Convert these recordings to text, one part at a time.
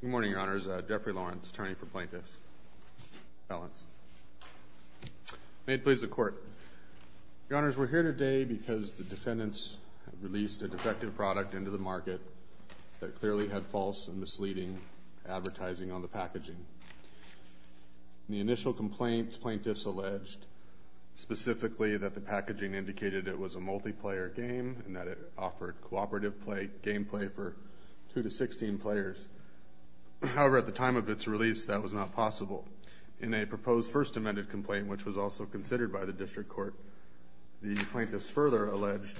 Good morning, Your Honors. Jeffrey Lawrence, attorney for plaintiffs. May it please the Court. Your Honors, we're here today because the defendants released a defective product into the market that clearly had false and misleading advertising on the packaging. In the initial complaint, plaintiffs alleged specifically that the packaging indicated it was a multiplayer game and that it offered cooperative gameplay for 2-16 players. However, at the time of its release, that was not possible. In a proposed First Amendment complaint, which was also considered by the District Court, the plaintiffs further alleged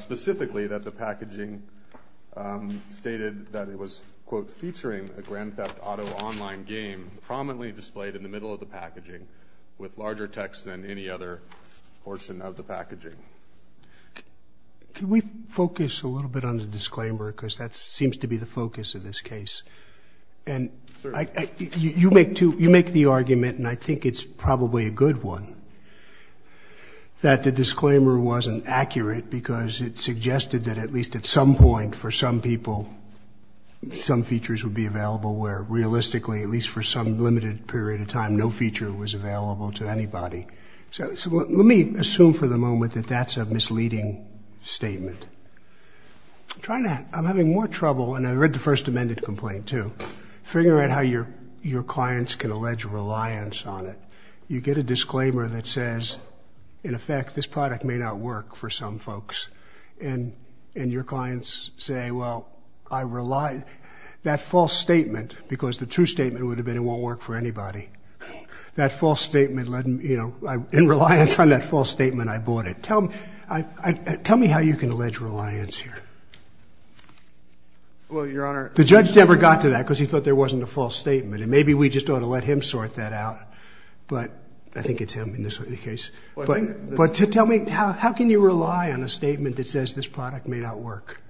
specifically that the packaging stated that it was, quote, featuring a Grand Theft Auto online game prominently displayed in the middle of the packaging with larger text than any other portion of the packaging. Can we focus a little bit on the disclaimer? Because that seems to be the focus of this case. And you make the argument, and I think it's probably a good one, that the disclaimer wasn't accurate because it suggested that at least at some point for some people, some features would be available where realistically, at least for some limited period of time, no feature was available to anybody. So let me assume for the moment that that's a misleading statement. I'm having more trouble, and I read the First Amendment complaint too, figuring out how your clients can allege reliance on it. You get a disclaimer that says, in effect, this product may not work for some folks. And your clients say, well, I rely, that false statement, because the true statement would have been it won't work for anybody, that false statement, in reliance on that false statement, I bought it. Tell me how you can allege reliance here. Well, Your Honor. The judge never got to that because he thought there wasn't a false statement. And maybe we just ought to let him sort that out. But I think it's him in this case. But tell me, how can you rely on a statement that says this product may not work?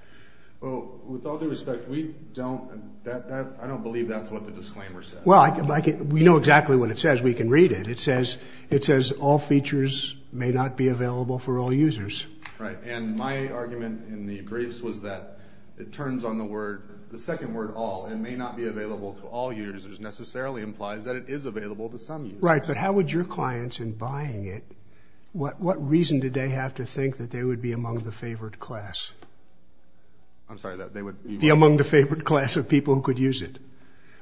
Well, with all due respect, we don't, I don't believe that's what the disclaimer says. Well, we know exactly what it says. We can read it. It says all features may not be available for all users. Right. And my argument in the briefs was that it turns on the word, the second word, all, and may not be available to all users necessarily implies that it is available to some users. Right. But how would your clients in buying it, what reason did they have to think that they would be among the favored class? I'm sorry, that they would be among the favored class of people who could use it?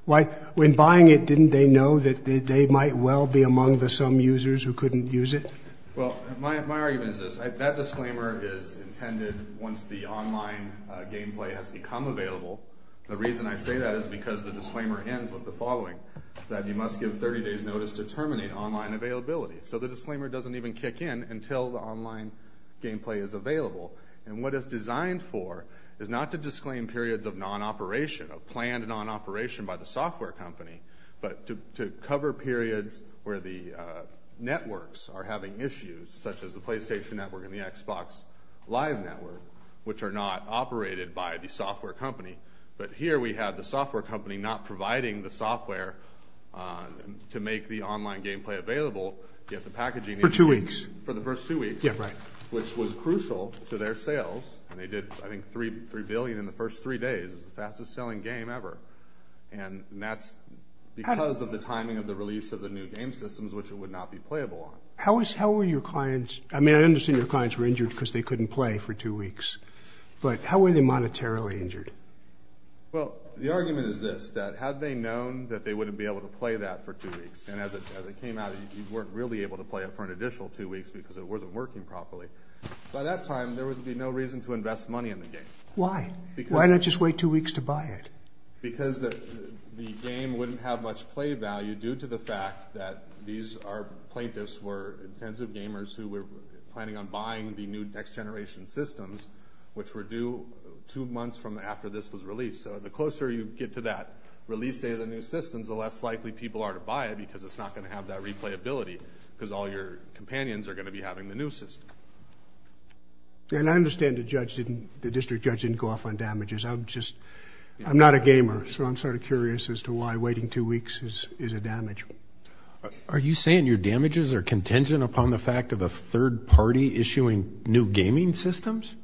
When buying it, didn't they know that they might well be among the some users who couldn't use it? Well, my argument is this. That disclaimer is intended once the online gameplay has become available. The reason I say that is because the disclaimer ends with the following, that you must give 30 days notice to terminate online availability. So the disclaimer doesn't even kick in until the online gameplay is available. And what it's designed for is not to disclaim periods of non-operation, of planned non-operation by the software company, but to cover periods where the networks are having issues, such as the PlayStation Network and the Xbox Live Network, which are not operated by the software company. But here we have the software company not providing the software to make the online gameplay available, yet the packaging... For two weeks. For the first two weeks. Yeah, right. Which was crucial to their sales. And they did, I think, three billion in the first three days. It's the fastest selling game ever. And that's because of the timing of the release of the new game systems, which it would not be playable on. How were your clients... I mean, I understand your clients were injured because they couldn't play for two weeks, but how were they monetarily injured? Well, the argument is this, that had they known that they wouldn't be able to play that for two weeks, and as it came out, you weren't really able to play it for an additional two weeks because it wasn't working properly. By that time, there would be no reason to invest money in the game. Why? Why not just wait two weeks to buy it? Because the game wouldn't have much play value due to the fact that these plaintiffs were intensive gamers who were planning on buying the new next generation systems, which were due two months from after this was released. So the closer you get to that release date of the new systems, the less likely people are to buy it because it's not going to have that replayability, because all your companions are going to be having the new system. And I understand the district judge didn't go off on damages. I'm just... Are you saying your damages are contingent upon the fact of a third party issuing new gaming systems?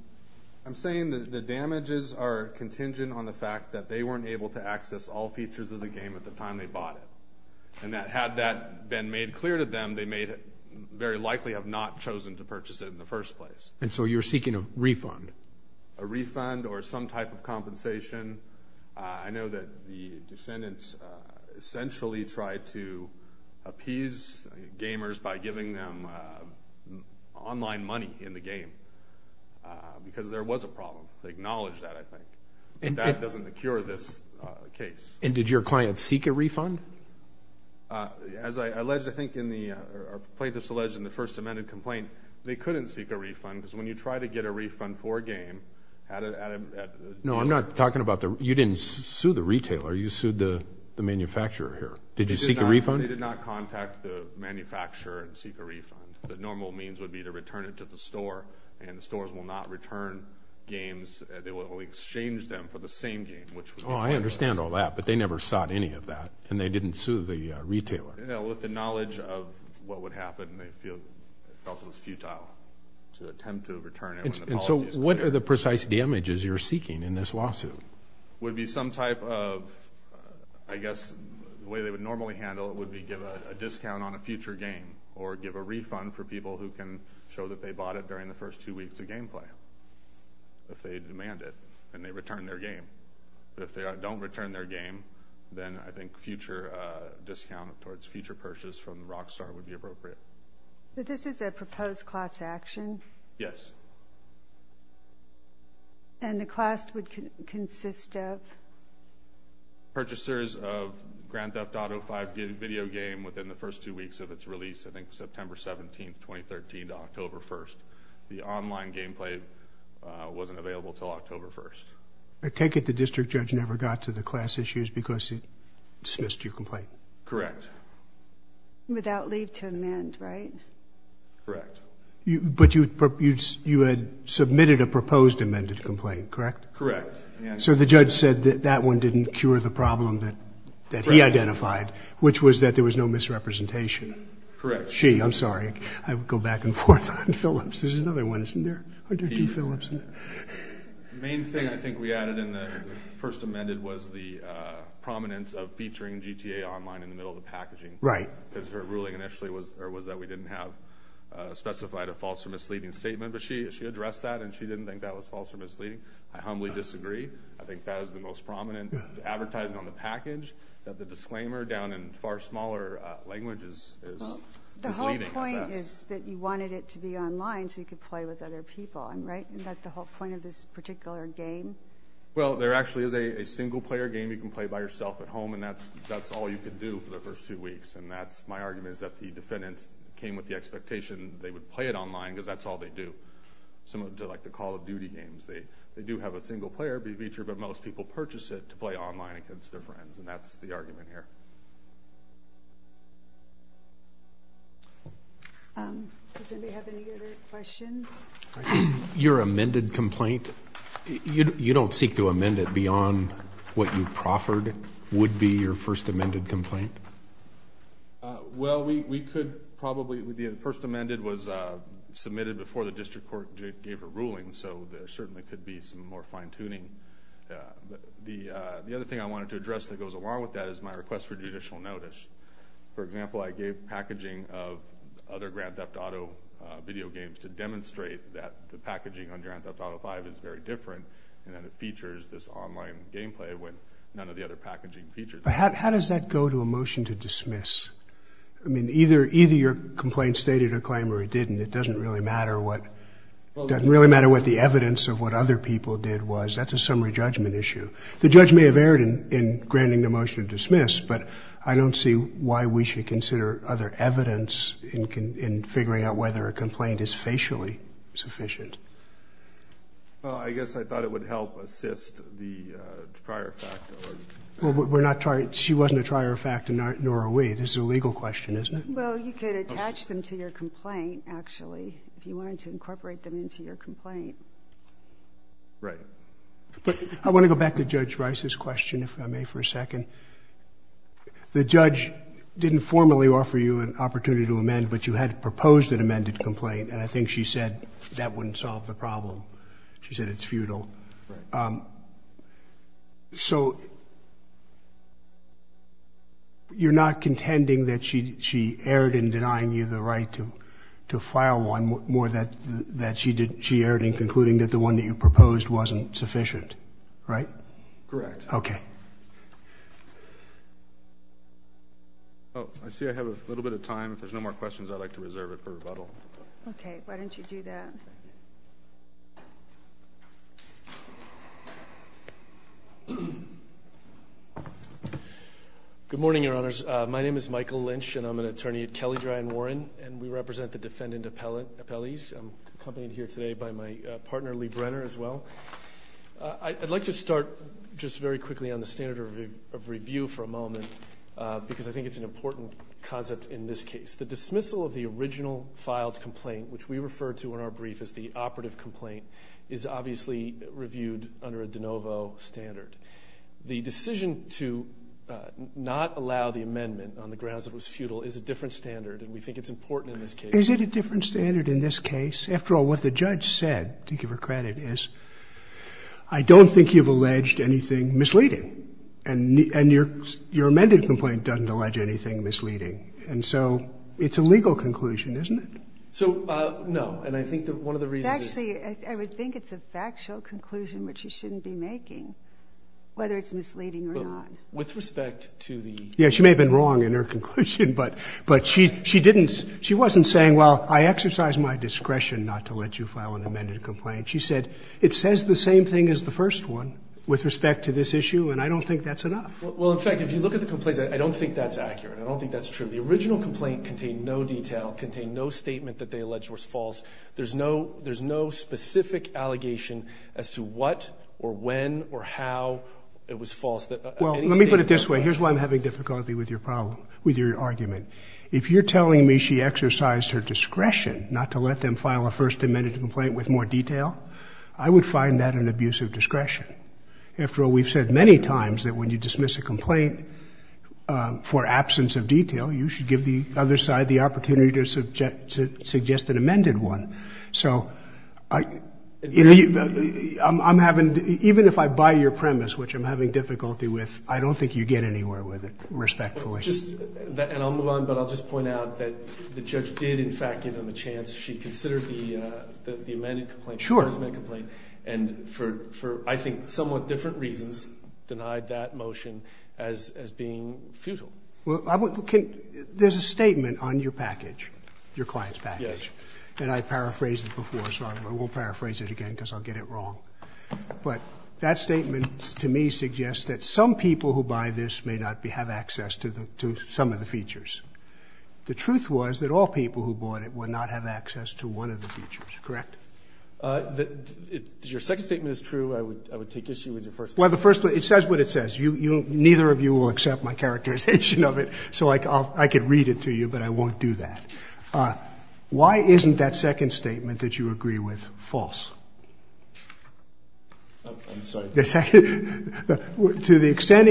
I'm saying that the damages are contingent on the fact that they weren't able to access all features of the game at the time they bought it. And that had that been made clear to them, they may very likely have not chosen to purchase it in the first place. And so you're seeking a refund? A refund or some type of compensation. I know that the defendants essentially tried to appease gamers by giving them online money in the game because there was a problem. They acknowledged that, I think. And that doesn't cure this case. And did your client seek a refund? As I alleged, I think in the plaintiffs alleged in the first amended complaint, they couldn't seek a refund because when you try to get a refund for a game... No, I'm not talking about the... You didn't sue the retailer. You sued the manufacturer here. Did you seek a refund? They did not contact the manufacturer and seek a refund. The normal means would be to return it to the store. And the stores will not return games. They will only exchange them for the same game, which... Oh, I understand all that. But they never sought any of that. And they didn't sue the retailer. With the knowledge of what would happen, they felt it was futile to attempt to return it when the policies... And so what are the precise damages you're seeking in this lawsuit? Would be some type of, I guess, the way they would normally handle it would be give a discount on a future game or give a refund for people who can show that they bought it during the first two weeks of gameplay. If they demand it and they return their game. But if they don't return their game, then I think future discount towards future purchase from Rockstar would be appropriate. But this is a proposed class action? Yes. And the class would consist of? Purchasers of Grand Theft Auto 5 video game within the first two weeks of its release, I think September 17, 2013 to October 1st. The online gameplay wasn't available until October 1st. I take it the district judge never got to the class issues because he dismissed your complaint? Correct. Without leave to amend, right? Correct. But you had submitted a proposed amended complaint, correct? Correct. So the judge said that that one didn't cure the problem that he identified, which was that there was no misrepresentation. Correct. Gee, I'm sorry. I would go back and forth on Phillips. There's another one, isn't there? The main thing I think we added in the first amended was the prominence of featuring GTA online in the middle of the packaging. Right. Because her ruling initially was that we didn't have specified a false or misleading statement. But she addressed that and she didn't think that was false or misleading. I humbly disagree. I think that is the most prominent advertising on the package that the disclaimer down in far smaller languages is misleading at best. The whole point is that you wanted it to be online so you could play with other people. Right? Isn't that the whole point of this particular game? Well, there actually is a single player game you can play by yourself at home and that's all you could do for the first two weeks. My argument is that the defendants came with the expectation that they would play it online because that's all they do. Similar to the Call of Duty games. They do have a single player feature, but most people purchase it to play online against their friends. That's the argument here. Does anybody have any other questions? Your amended complaint, you don't seek to amend it beyond what you proffered would be your first amended complaint? Well, we could probably, the first amended was submitted before the district court gave a ruling so there certainly could be some more fine tuning. The other thing I wanted to address that goes along with that is my request for judicial notice. For example, I gave packaging of other Grand Theft Auto video games to demonstrate that the packaging on Grand Theft Auto V is very different and that it features this online gameplay when none of the other packaging features it. How does that go to a motion to dismiss? I mean, either your complaint stated a claim or it didn't. It doesn't really matter what the evidence of what other people did was. That's a summary judgment issue. The judge may have a different opinion in granting the motion to dismiss, but I don't see why we should consider other evidence in figuring out whether a complaint is facially sufficient. I guess I thought it would help assist the prior fact. She wasn't a prior fact, nor are we. This is a legal question, isn't it? Well, you could attach them to your complaint, actually, if you wanted to incorporate them into your complaint. Right. I want to go back to Judge Rice's question, if I may, for a second. The judge didn't formally offer you an opportunity to amend, but you had proposed an amended complaint, and I think she said that wouldn't solve the problem. She said it's futile. You're not contending that she erred in denying you the right to file one, more that she erred in concluding that the one that you proposed wasn't sufficient, right? Correct. Okay. Oh, I see I have a little bit of time. If there's no more questions, I'd like to reserve it for rebuttal. Okay. Why don't you do that? Good morning, Your Honors. My name is Michael Lynch, and I'm an attorney at Kelley Dry & Warren, and we represent the defendant appellees. I'm accompanied here today by my partner, Lee Brenner, as well. I'd like to start just very quickly on the standard of review for a moment, because I think it's an important concept in this case. The dismissal of the original filed complaint, which we refer to in our brief as the operative complaint, is obviously reviewed under a de novo standard. The decision to not allow the amendment on the original filed complaint is a different standard, and we think it's important in this case. Is it a different standard in this case? After all, what the judge said, to give her credit, is, I don't think you've alleged anything misleading. And your amended complaint doesn't allege anything misleading. And so it's a legal conclusion, isn't it? So, no. And I think that one of the reasons is... Actually, I would think it's a factual conclusion, which you shouldn't be making, whether it's misleading or not. But with respect to the... Yeah, she may have been wrong in her conclusion, but she didn't, she wasn't saying, well, I exercise my discretion not to let you file an amended complaint. She said, it says the same thing as the first one with respect to this issue, and I don't think that's enough. Well, in fact, if you look at the complaints, I don't think that's accurate. I don't think that's true. The original complaint contained no detail, contained no statement that they alleged was false. There's no specific allegation as to what or when or how it was false. Well, let me put it this way. Here's why I'm having difficulty with your problem, with your argument. If you're telling me she exercised her discretion not to let them file a first amended complaint with more detail, I would find that an abuse of discretion. After all, we've said many times that when you dismiss a complaint for absence of detail, you should give the other side the opportunity to suggest an amended one. So even if I buy your premise, which I'm having difficulty with, I don't think you get anywhere with it, respectfully. And I'll move on, but I'll just point out that the judge did, in fact, give them a chance. She considered the amended complaint, the first amended complaint, and for, I think, somewhat different reasons, denied that motion as being futile. Well, there's a statement on your package, your client's package. Yes. And I paraphrased it before, so I won't paraphrase it again because I'll get it wrong. But that statement to me suggests that some people who buy this may not have access to some of the features. The truth was that all people who bought it would not have access to one of the features, correct? Your second statement is true. I would take issue with your first one. Well, the first one, it says what it says. Neither of you will accept my characterization of it, so I could read it to you, but I won't do that. Why isn't that second statement that you agree with false? I'm sorry. To the extent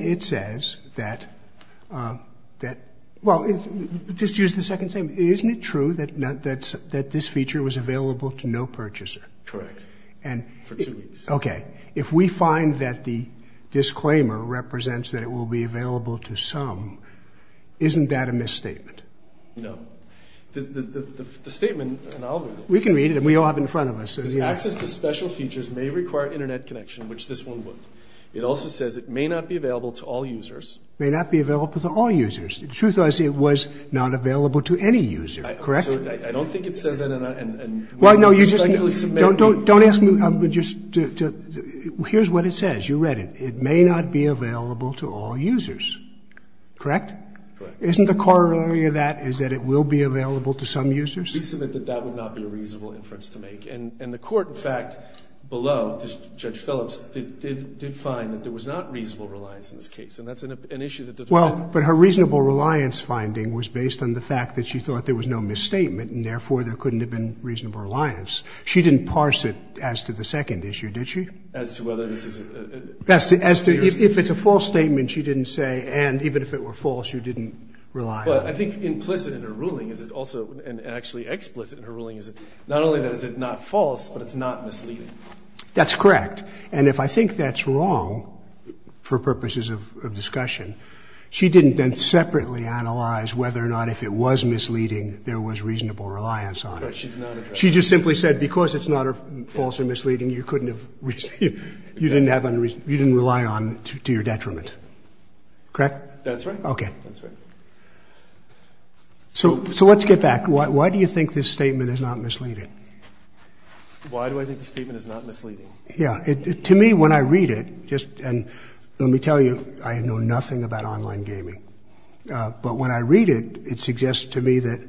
it says that, well, just use the second statement. Isn't it true that this feature was available to no purchaser? Correct. Okay. If we find that the disclaimer represents that it will be available to some, isn't that a misstatement? No. The statement, and I'll read it. We can read it, and we all have it in front of us. It says access to special features may require Internet connection, which this one would. It also says it may not be available to all users. May not be available to all users. The truth is it was not available to any user, correct? I don't think it says that. Don't ask me. Here's what it says. You read it. It says it may not be available to all users, correct? Correct. Isn't the corollary of that is that it will be available to some users? We submit that that would not be a reasonable inference to make. And the Court, in fact, below Judge Phillips, did find that there was not reasonable reliance in this case, and that's an issue that does not. Well, but her reasonable reliance finding was based on the fact that she thought there was no misstatement, and therefore there couldn't have been reasonable reliance. She didn't parse it as to the second issue, did she? As to whether this is a... As to if it's a false statement she didn't say, and even if it were false, you didn't rely on it. Well, I think implicit in her ruling is it also, and actually explicit in her ruling, is not only that is it not false, but it's not misleading. That's correct. And if I think that's wrong, for purposes of discussion, she didn't then separately analyze whether or not if it was misleading, there was reasonable reliance on it. But she did not address... She just simply said because it's not false or misleading, you couldn't have... You didn't have... You didn't rely on it to your detriment. Correct? That's right. Okay. That's right. So let's get back. Why do you think this statement is not misleading? Why do I think the statement is not misleading? Yeah. To me, when I read it, just... And let me tell you, I know nothing about online gaming. But when I read it, it suggests to me that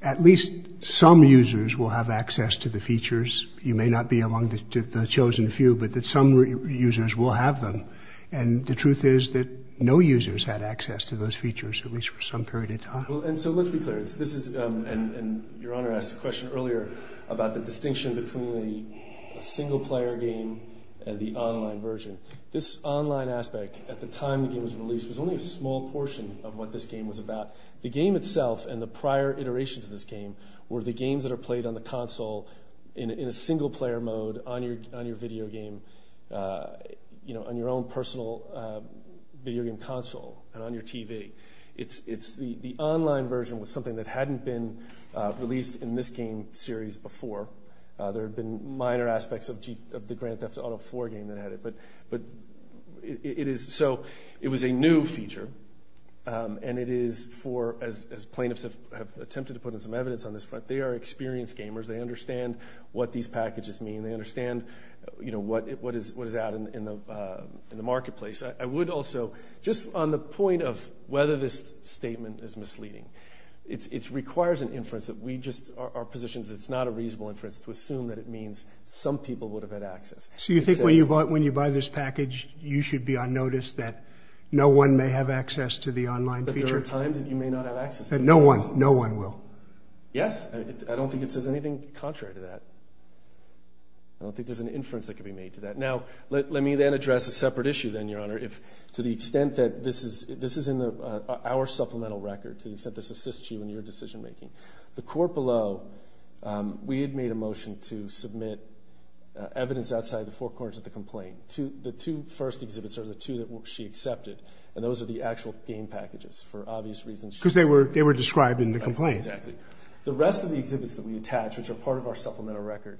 at least some users will have access to the features. You may not be among the chosen few, but that some users will have them. And the truth is that no users had access to those features, at least for some period of time. And so let's be clear. This is... And Your Honor asked a question earlier about the distinction between the single-player game and the online version. This online aspect, at the time the game was released, was only a small portion of what this game was about. The game itself and the prior iterations of this game were the games that are played on the console in a single-player mode on your video game, on your own personal video game console and on your TV. The online version was something that hadn't been released in this game series before. There have been minor aspects of the Grand Theft Auto IV game that had it. But it is... So it was a new feature, and it is for, as plaintiffs have attempted to put in some evidence on this front, they are experienced gamers. They understand what these packages mean. They understand, you know, what is out in the marketplace. I would also, just on the point of whether this statement is misleading, it requires an inference that we just are positioned that it's not a reasonable inference to assume that it means some people would have had access. So you think when you buy this package, you should be on notice that no one may have access to the online feature? But there are times that you may not have access. No one. No one will. Yes. I don't think it says anything contrary to that. I don't think there's an inference that could be made to that. Now, let me then address a separate issue then, Your Honor. To the extent that this is in our supplemental record, to the extent that this assists you in your decision-making, the court below, we had made a motion to submit evidence outside the four corners of the complaint. The two first exhibits are the two that she accepted, and those are the actual game packages for obvious reasons. Because they were described in the complaint. Exactly. The rest of the exhibits that we attach, which are part of our supplemental record,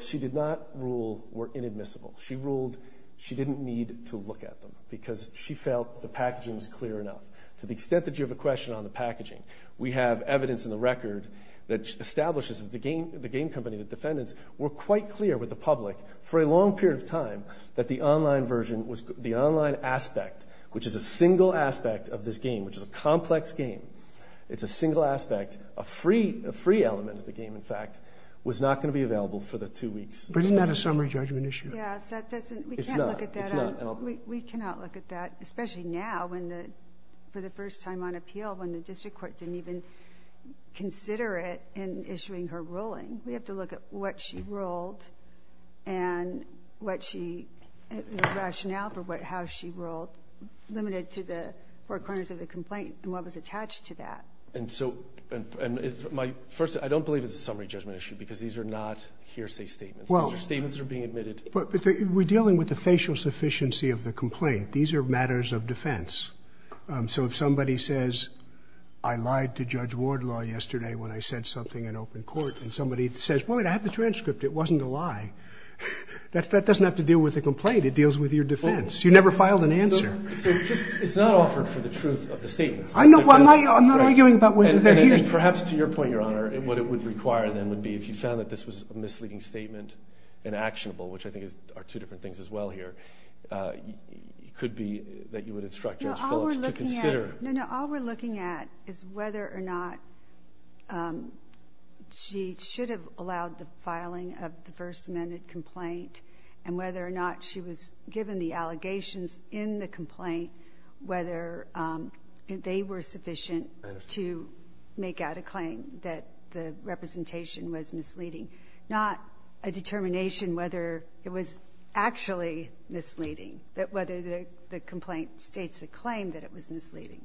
she did not rule were inadmissible. She ruled she didn't need to look at them because she felt the packaging was clear enough. To the extent that you have a question on the packaging, we have evidence in the record that establishes that the game company, the defendants, were quite clear with the public for a long period of time that the online version, the online aspect, which is a single aspect of this game, which is a complex game, it's a single aspect, a free element of the game, in fact, was not going to be available for the two weeks. But isn't that a summary judgment issue? Yes. We can't look at that. It's not. We cannot look at that, especially now for the first time on appeal when the district court didn't even consider it in issuing her ruling. We have to look at what she ruled and what she – the rationale for how she ruled limited to the four corners of the complaint and what was attached to that. And so – and my – first, I don't believe it's a summary judgment issue because these are not hearsay statements. These are statements that are being admitted. But we're dealing with the facial sufficiency of the complaint. These are matters of defense. So if somebody says, I lied to Judge Wardlaw yesterday when I said something in open court, and somebody says, Wait a minute, I have the transcript. It wasn't a lie. That doesn't have to deal with the complaint. It deals with your defense. You never filed an answer. So it's not offered for the truth of the statements. I'm not arguing about whether they're hearsay. And perhaps to your point, Your Honor, what it would require then would be if you found that this was a misleading statement, inactionable, which I think are two different things as well here, it could be that you would instruct Judge Phillips to consider. No, no. All we're looking at is whether or not she should have allowed the filing of the First Amendment complaint and whether or not she was given the allegations in the complaint, whether they were sufficient to make out a claim that the representation was misleading, not a determination whether it was actually misleading, but whether the complaint states a claim that it was misleading.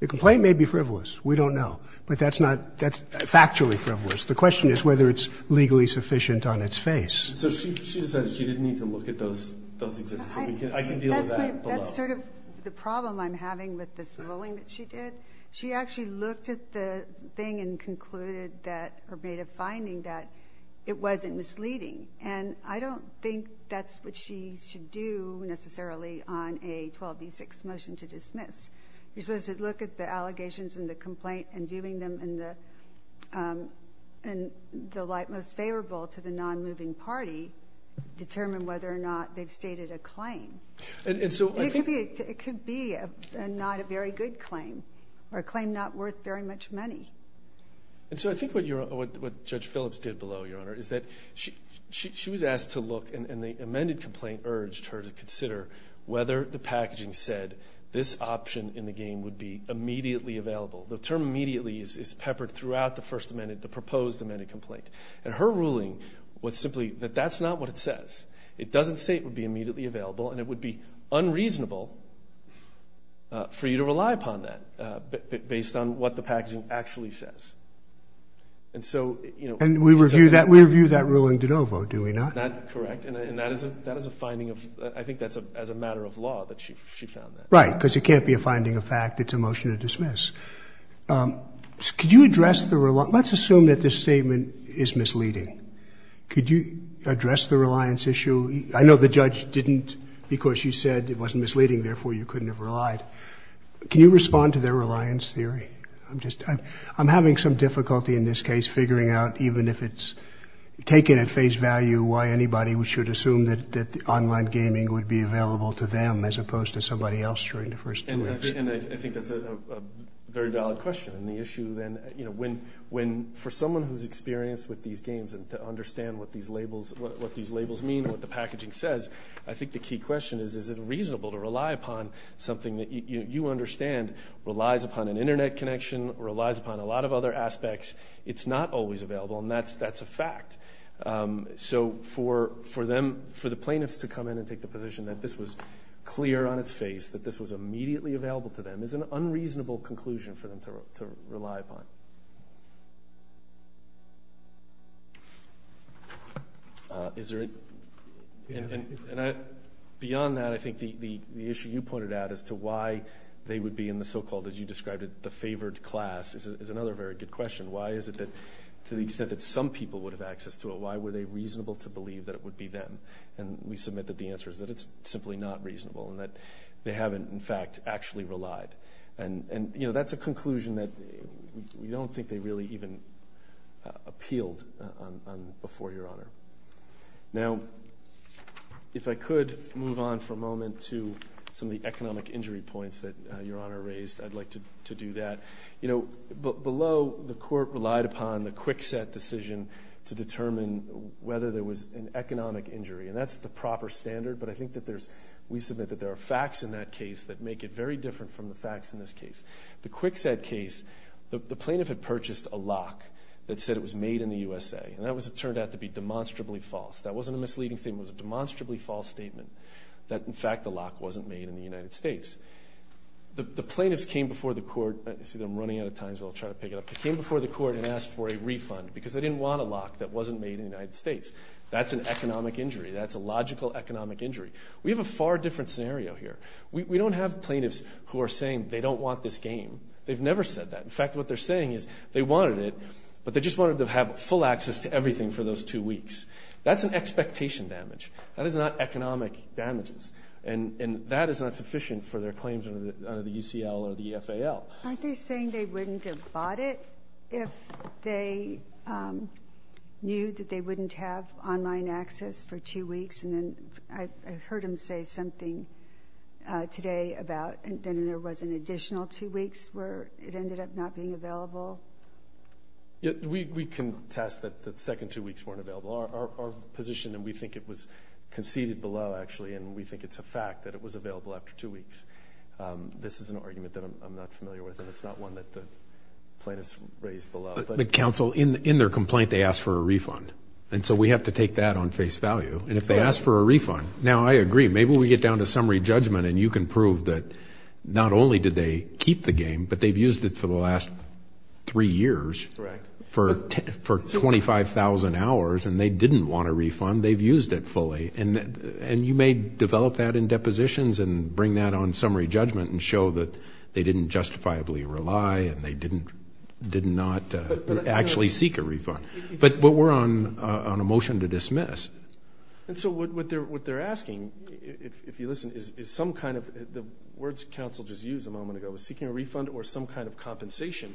The complaint may be frivolous. We don't know. But that's not factually frivolous. The question is whether it's legally sufficient on its face. So she says she didn't need to look at those exhibits. I can deal with that. That's sort of the problem I'm having with this ruling that she did. She actually looked at the thing and concluded that or made a finding that it wasn't misleading. And I don't think that's what she should do necessarily on a 12B6 motion to dismiss. You're supposed to look at the allegations in the complaint and viewing them in the light most favorable to the nonmoving party, determine whether or not they've stated a claim. It could be not a very good claim or a claim not worth very much money. And so I think what Judge Phillips did below, Your Honor, is that she was asked to look, and the amended complaint urged her to consider whether the packaging said this option in the game would be immediately available. The term immediately is peppered throughout the first amended, the proposed amended complaint. And her ruling was simply that that's not what it says. It doesn't say it would be immediately available, and it would be unreasonable for you to rely upon that based on what the packaging actually says. And so, you know. And we review that ruling de novo, do we not? Correct. And that is a finding of – I think that's as a matter of law that she found that. Right, because it can't be a finding of fact. It's a motion to dismiss. Could you address the – let's assume that this statement is misleading. Could you address the reliance issue? I know the judge didn't because she said it wasn't misleading, therefore you couldn't have relied. Can you respond to their reliance theory? I'm having some difficulty in this case figuring out, even if it's taken at face value, why anybody should assume that online gaming would be available to them as opposed to somebody else during the first two weeks. And I think that's a very valid question. And the issue then, you know, when – for someone who's experienced with these games and to understand what these labels mean, what the packaging says, I think the key question is, is it reasonable to rely upon something that you understand relies upon an internet connection, relies upon a lot of other aspects. It's not always available, and that's a fact. So for them – for the plaintiffs to come in and take the position that this was clear on its face, that this was immediately available to them, is an unreasonable conclusion for them to rely upon. Is there a – and beyond that, I think the issue you pointed out as to why they would be in the so-called, as you described it, the favored class is another very good question. Why is it that to the extent that some people would have access to it, why were they reasonable to believe that it would be them? And we submit that the answer is that it's simply not reasonable and that they haven't, in fact, actually relied. And that's a conclusion that we don't think they really even appealed before Your Honor. Now, if I could move on for a moment to some of the economic injury points that Your Honor raised, I'd like to do that. Below, the court relied upon the quick set decision to determine whether there was an economic injury, and that's the proper standard, but I think that there's – we submit that there are facts in that case that make it very different from the facts in this case. The quick set case, the plaintiff had purchased a lock that said it was made in the USA, and that turned out to be demonstrably false. That wasn't a misleading statement. It was a demonstrably false statement that, in fact, the lock wasn't made in the United States. The plaintiffs came before the court – I see that I'm running out of time, so I'll try to pick it up. They came before the court and asked for a refund because they didn't want a lock that wasn't made in the United States. That's an economic injury. That's a logical economic injury. We have a far different scenario here. We don't have plaintiffs who are saying they don't want this game. They've never said that. In fact, what they're saying is they wanted it, but they just wanted to have full access to everything for those two weeks. That's an expectation damage. That is not economic damages, and that is not sufficient for their claims under the UCL or the FAL. Aren't they saying they wouldn't have bought it if they knew that they wouldn't have online access for two weeks? I heard him say something today about there was an additional two weeks where it ended up not being available. We contest that the second two weeks weren't available. Our position, and we think it was conceded below, actually, and we think it's a fact that it was available after two weeks. This is an argument that I'm not familiar with, and it's not one that the plaintiffs raised below. But, counsel, in their complaint, they asked for a refund, and so we have to take that on face value. And if they ask for a refund, now I agree, maybe we get down to summary judgment and you can prove that not only did they keep the game, but they've used it for the last three years for 25,000 hours and they didn't want a refund, they've used it fully. And you may develop that in depositions and bring that on summary judgment and show that they didn't justifiably rely and they did not actually seek a refund. But we're on a motion to dismiss. And so what they're asking, if you listen, is some kind of the words counsel just used a moment ago, seeking a refund or some kind of compensation,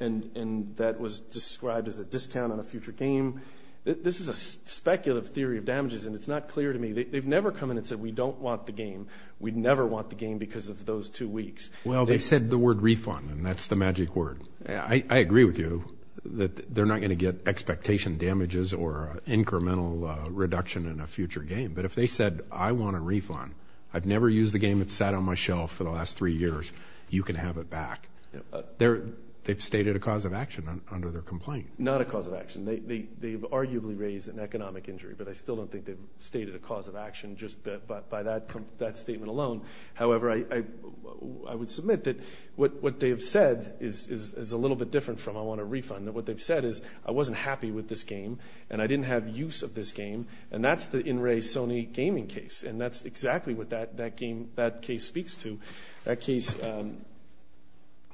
and that was described as a discount on a future game. This is a speculative theory of damages, and it's not clear to me. They've never come in and said we don't want the game. We'd never want the game because of those two weeks. Well, they said the word refund, and that's the magic word. I agree with you that they're not going to get expectation damages or incremental reduction in a future game. But if they said I want a refund, I've never used the game that sat on my shelf for the last three years. You can have it back. They've stated a cause of action under their complaint. Not a cause of action. They've arguably raised an economic injury, but I still don't think they've stated a cause of action just by that statement alone. However, I would submit that what they have said is a little bit different from I want a refund. What they've said is I wasn't happy with this game, and I didn't have use of this game, and that's the in-ray Sony gaming case, and that's exactly what that case speaks to. That case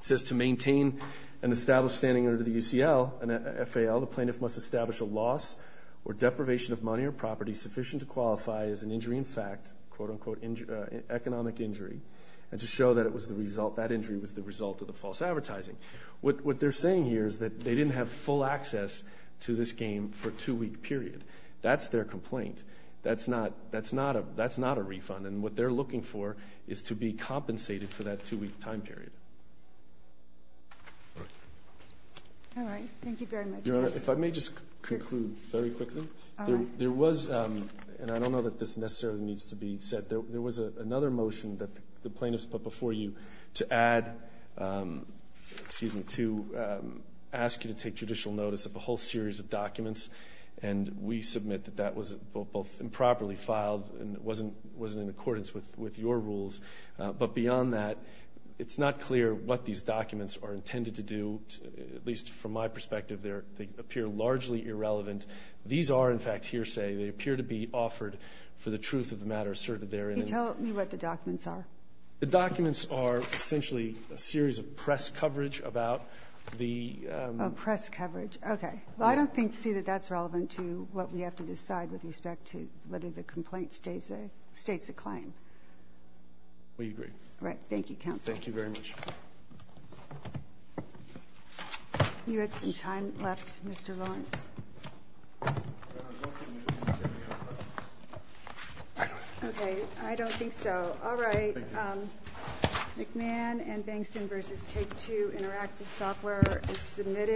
says to maintain an established standing under the UCL and FAL, the plaintiff must establish a loss or deprivation of money or property sufficient to qualify as an injury in fact, quote-unquote economic injury, and to show that that injury was the result of the false advertising. What they're saying here is that they didn't have full access to this game for a two-week period. That's their complaint. That's not a refund, and what they're looking for is to be compensated for that two-week time period. All right, thank you very much. If I may just conclude very quickly. There was, and I don't know that this necessarily needs to be said, there was another motion that the plaintiffs put before you to add, excuse me, to ask you to take judicial notice of a whole series of documents, and we submit that that was both improperly filed and it wasn't in accordance with your rules. But beyond that, it's not clear what these documents are intended to do. At least from my perspective, they appear largely irrelevant. These are, in fact, hearsay. They appear to be offered for the truth of the matter asserted therein. Can you tell me what the documents are? The documents are essentially a series of press coverage about the – Oh, press coverage. Okay. Well, I don't see that that's relevant to what we have to decide with respect to whether the complaint states a claim. We agree. Great. Thank you, counsel. Thank you very much. You had some time left, Mr. Lawrence. I was hoping you would say we have a vote. Okay. I don't think so. All right. McMahon and Bankston v. Take-Two Interactive Software is submitted.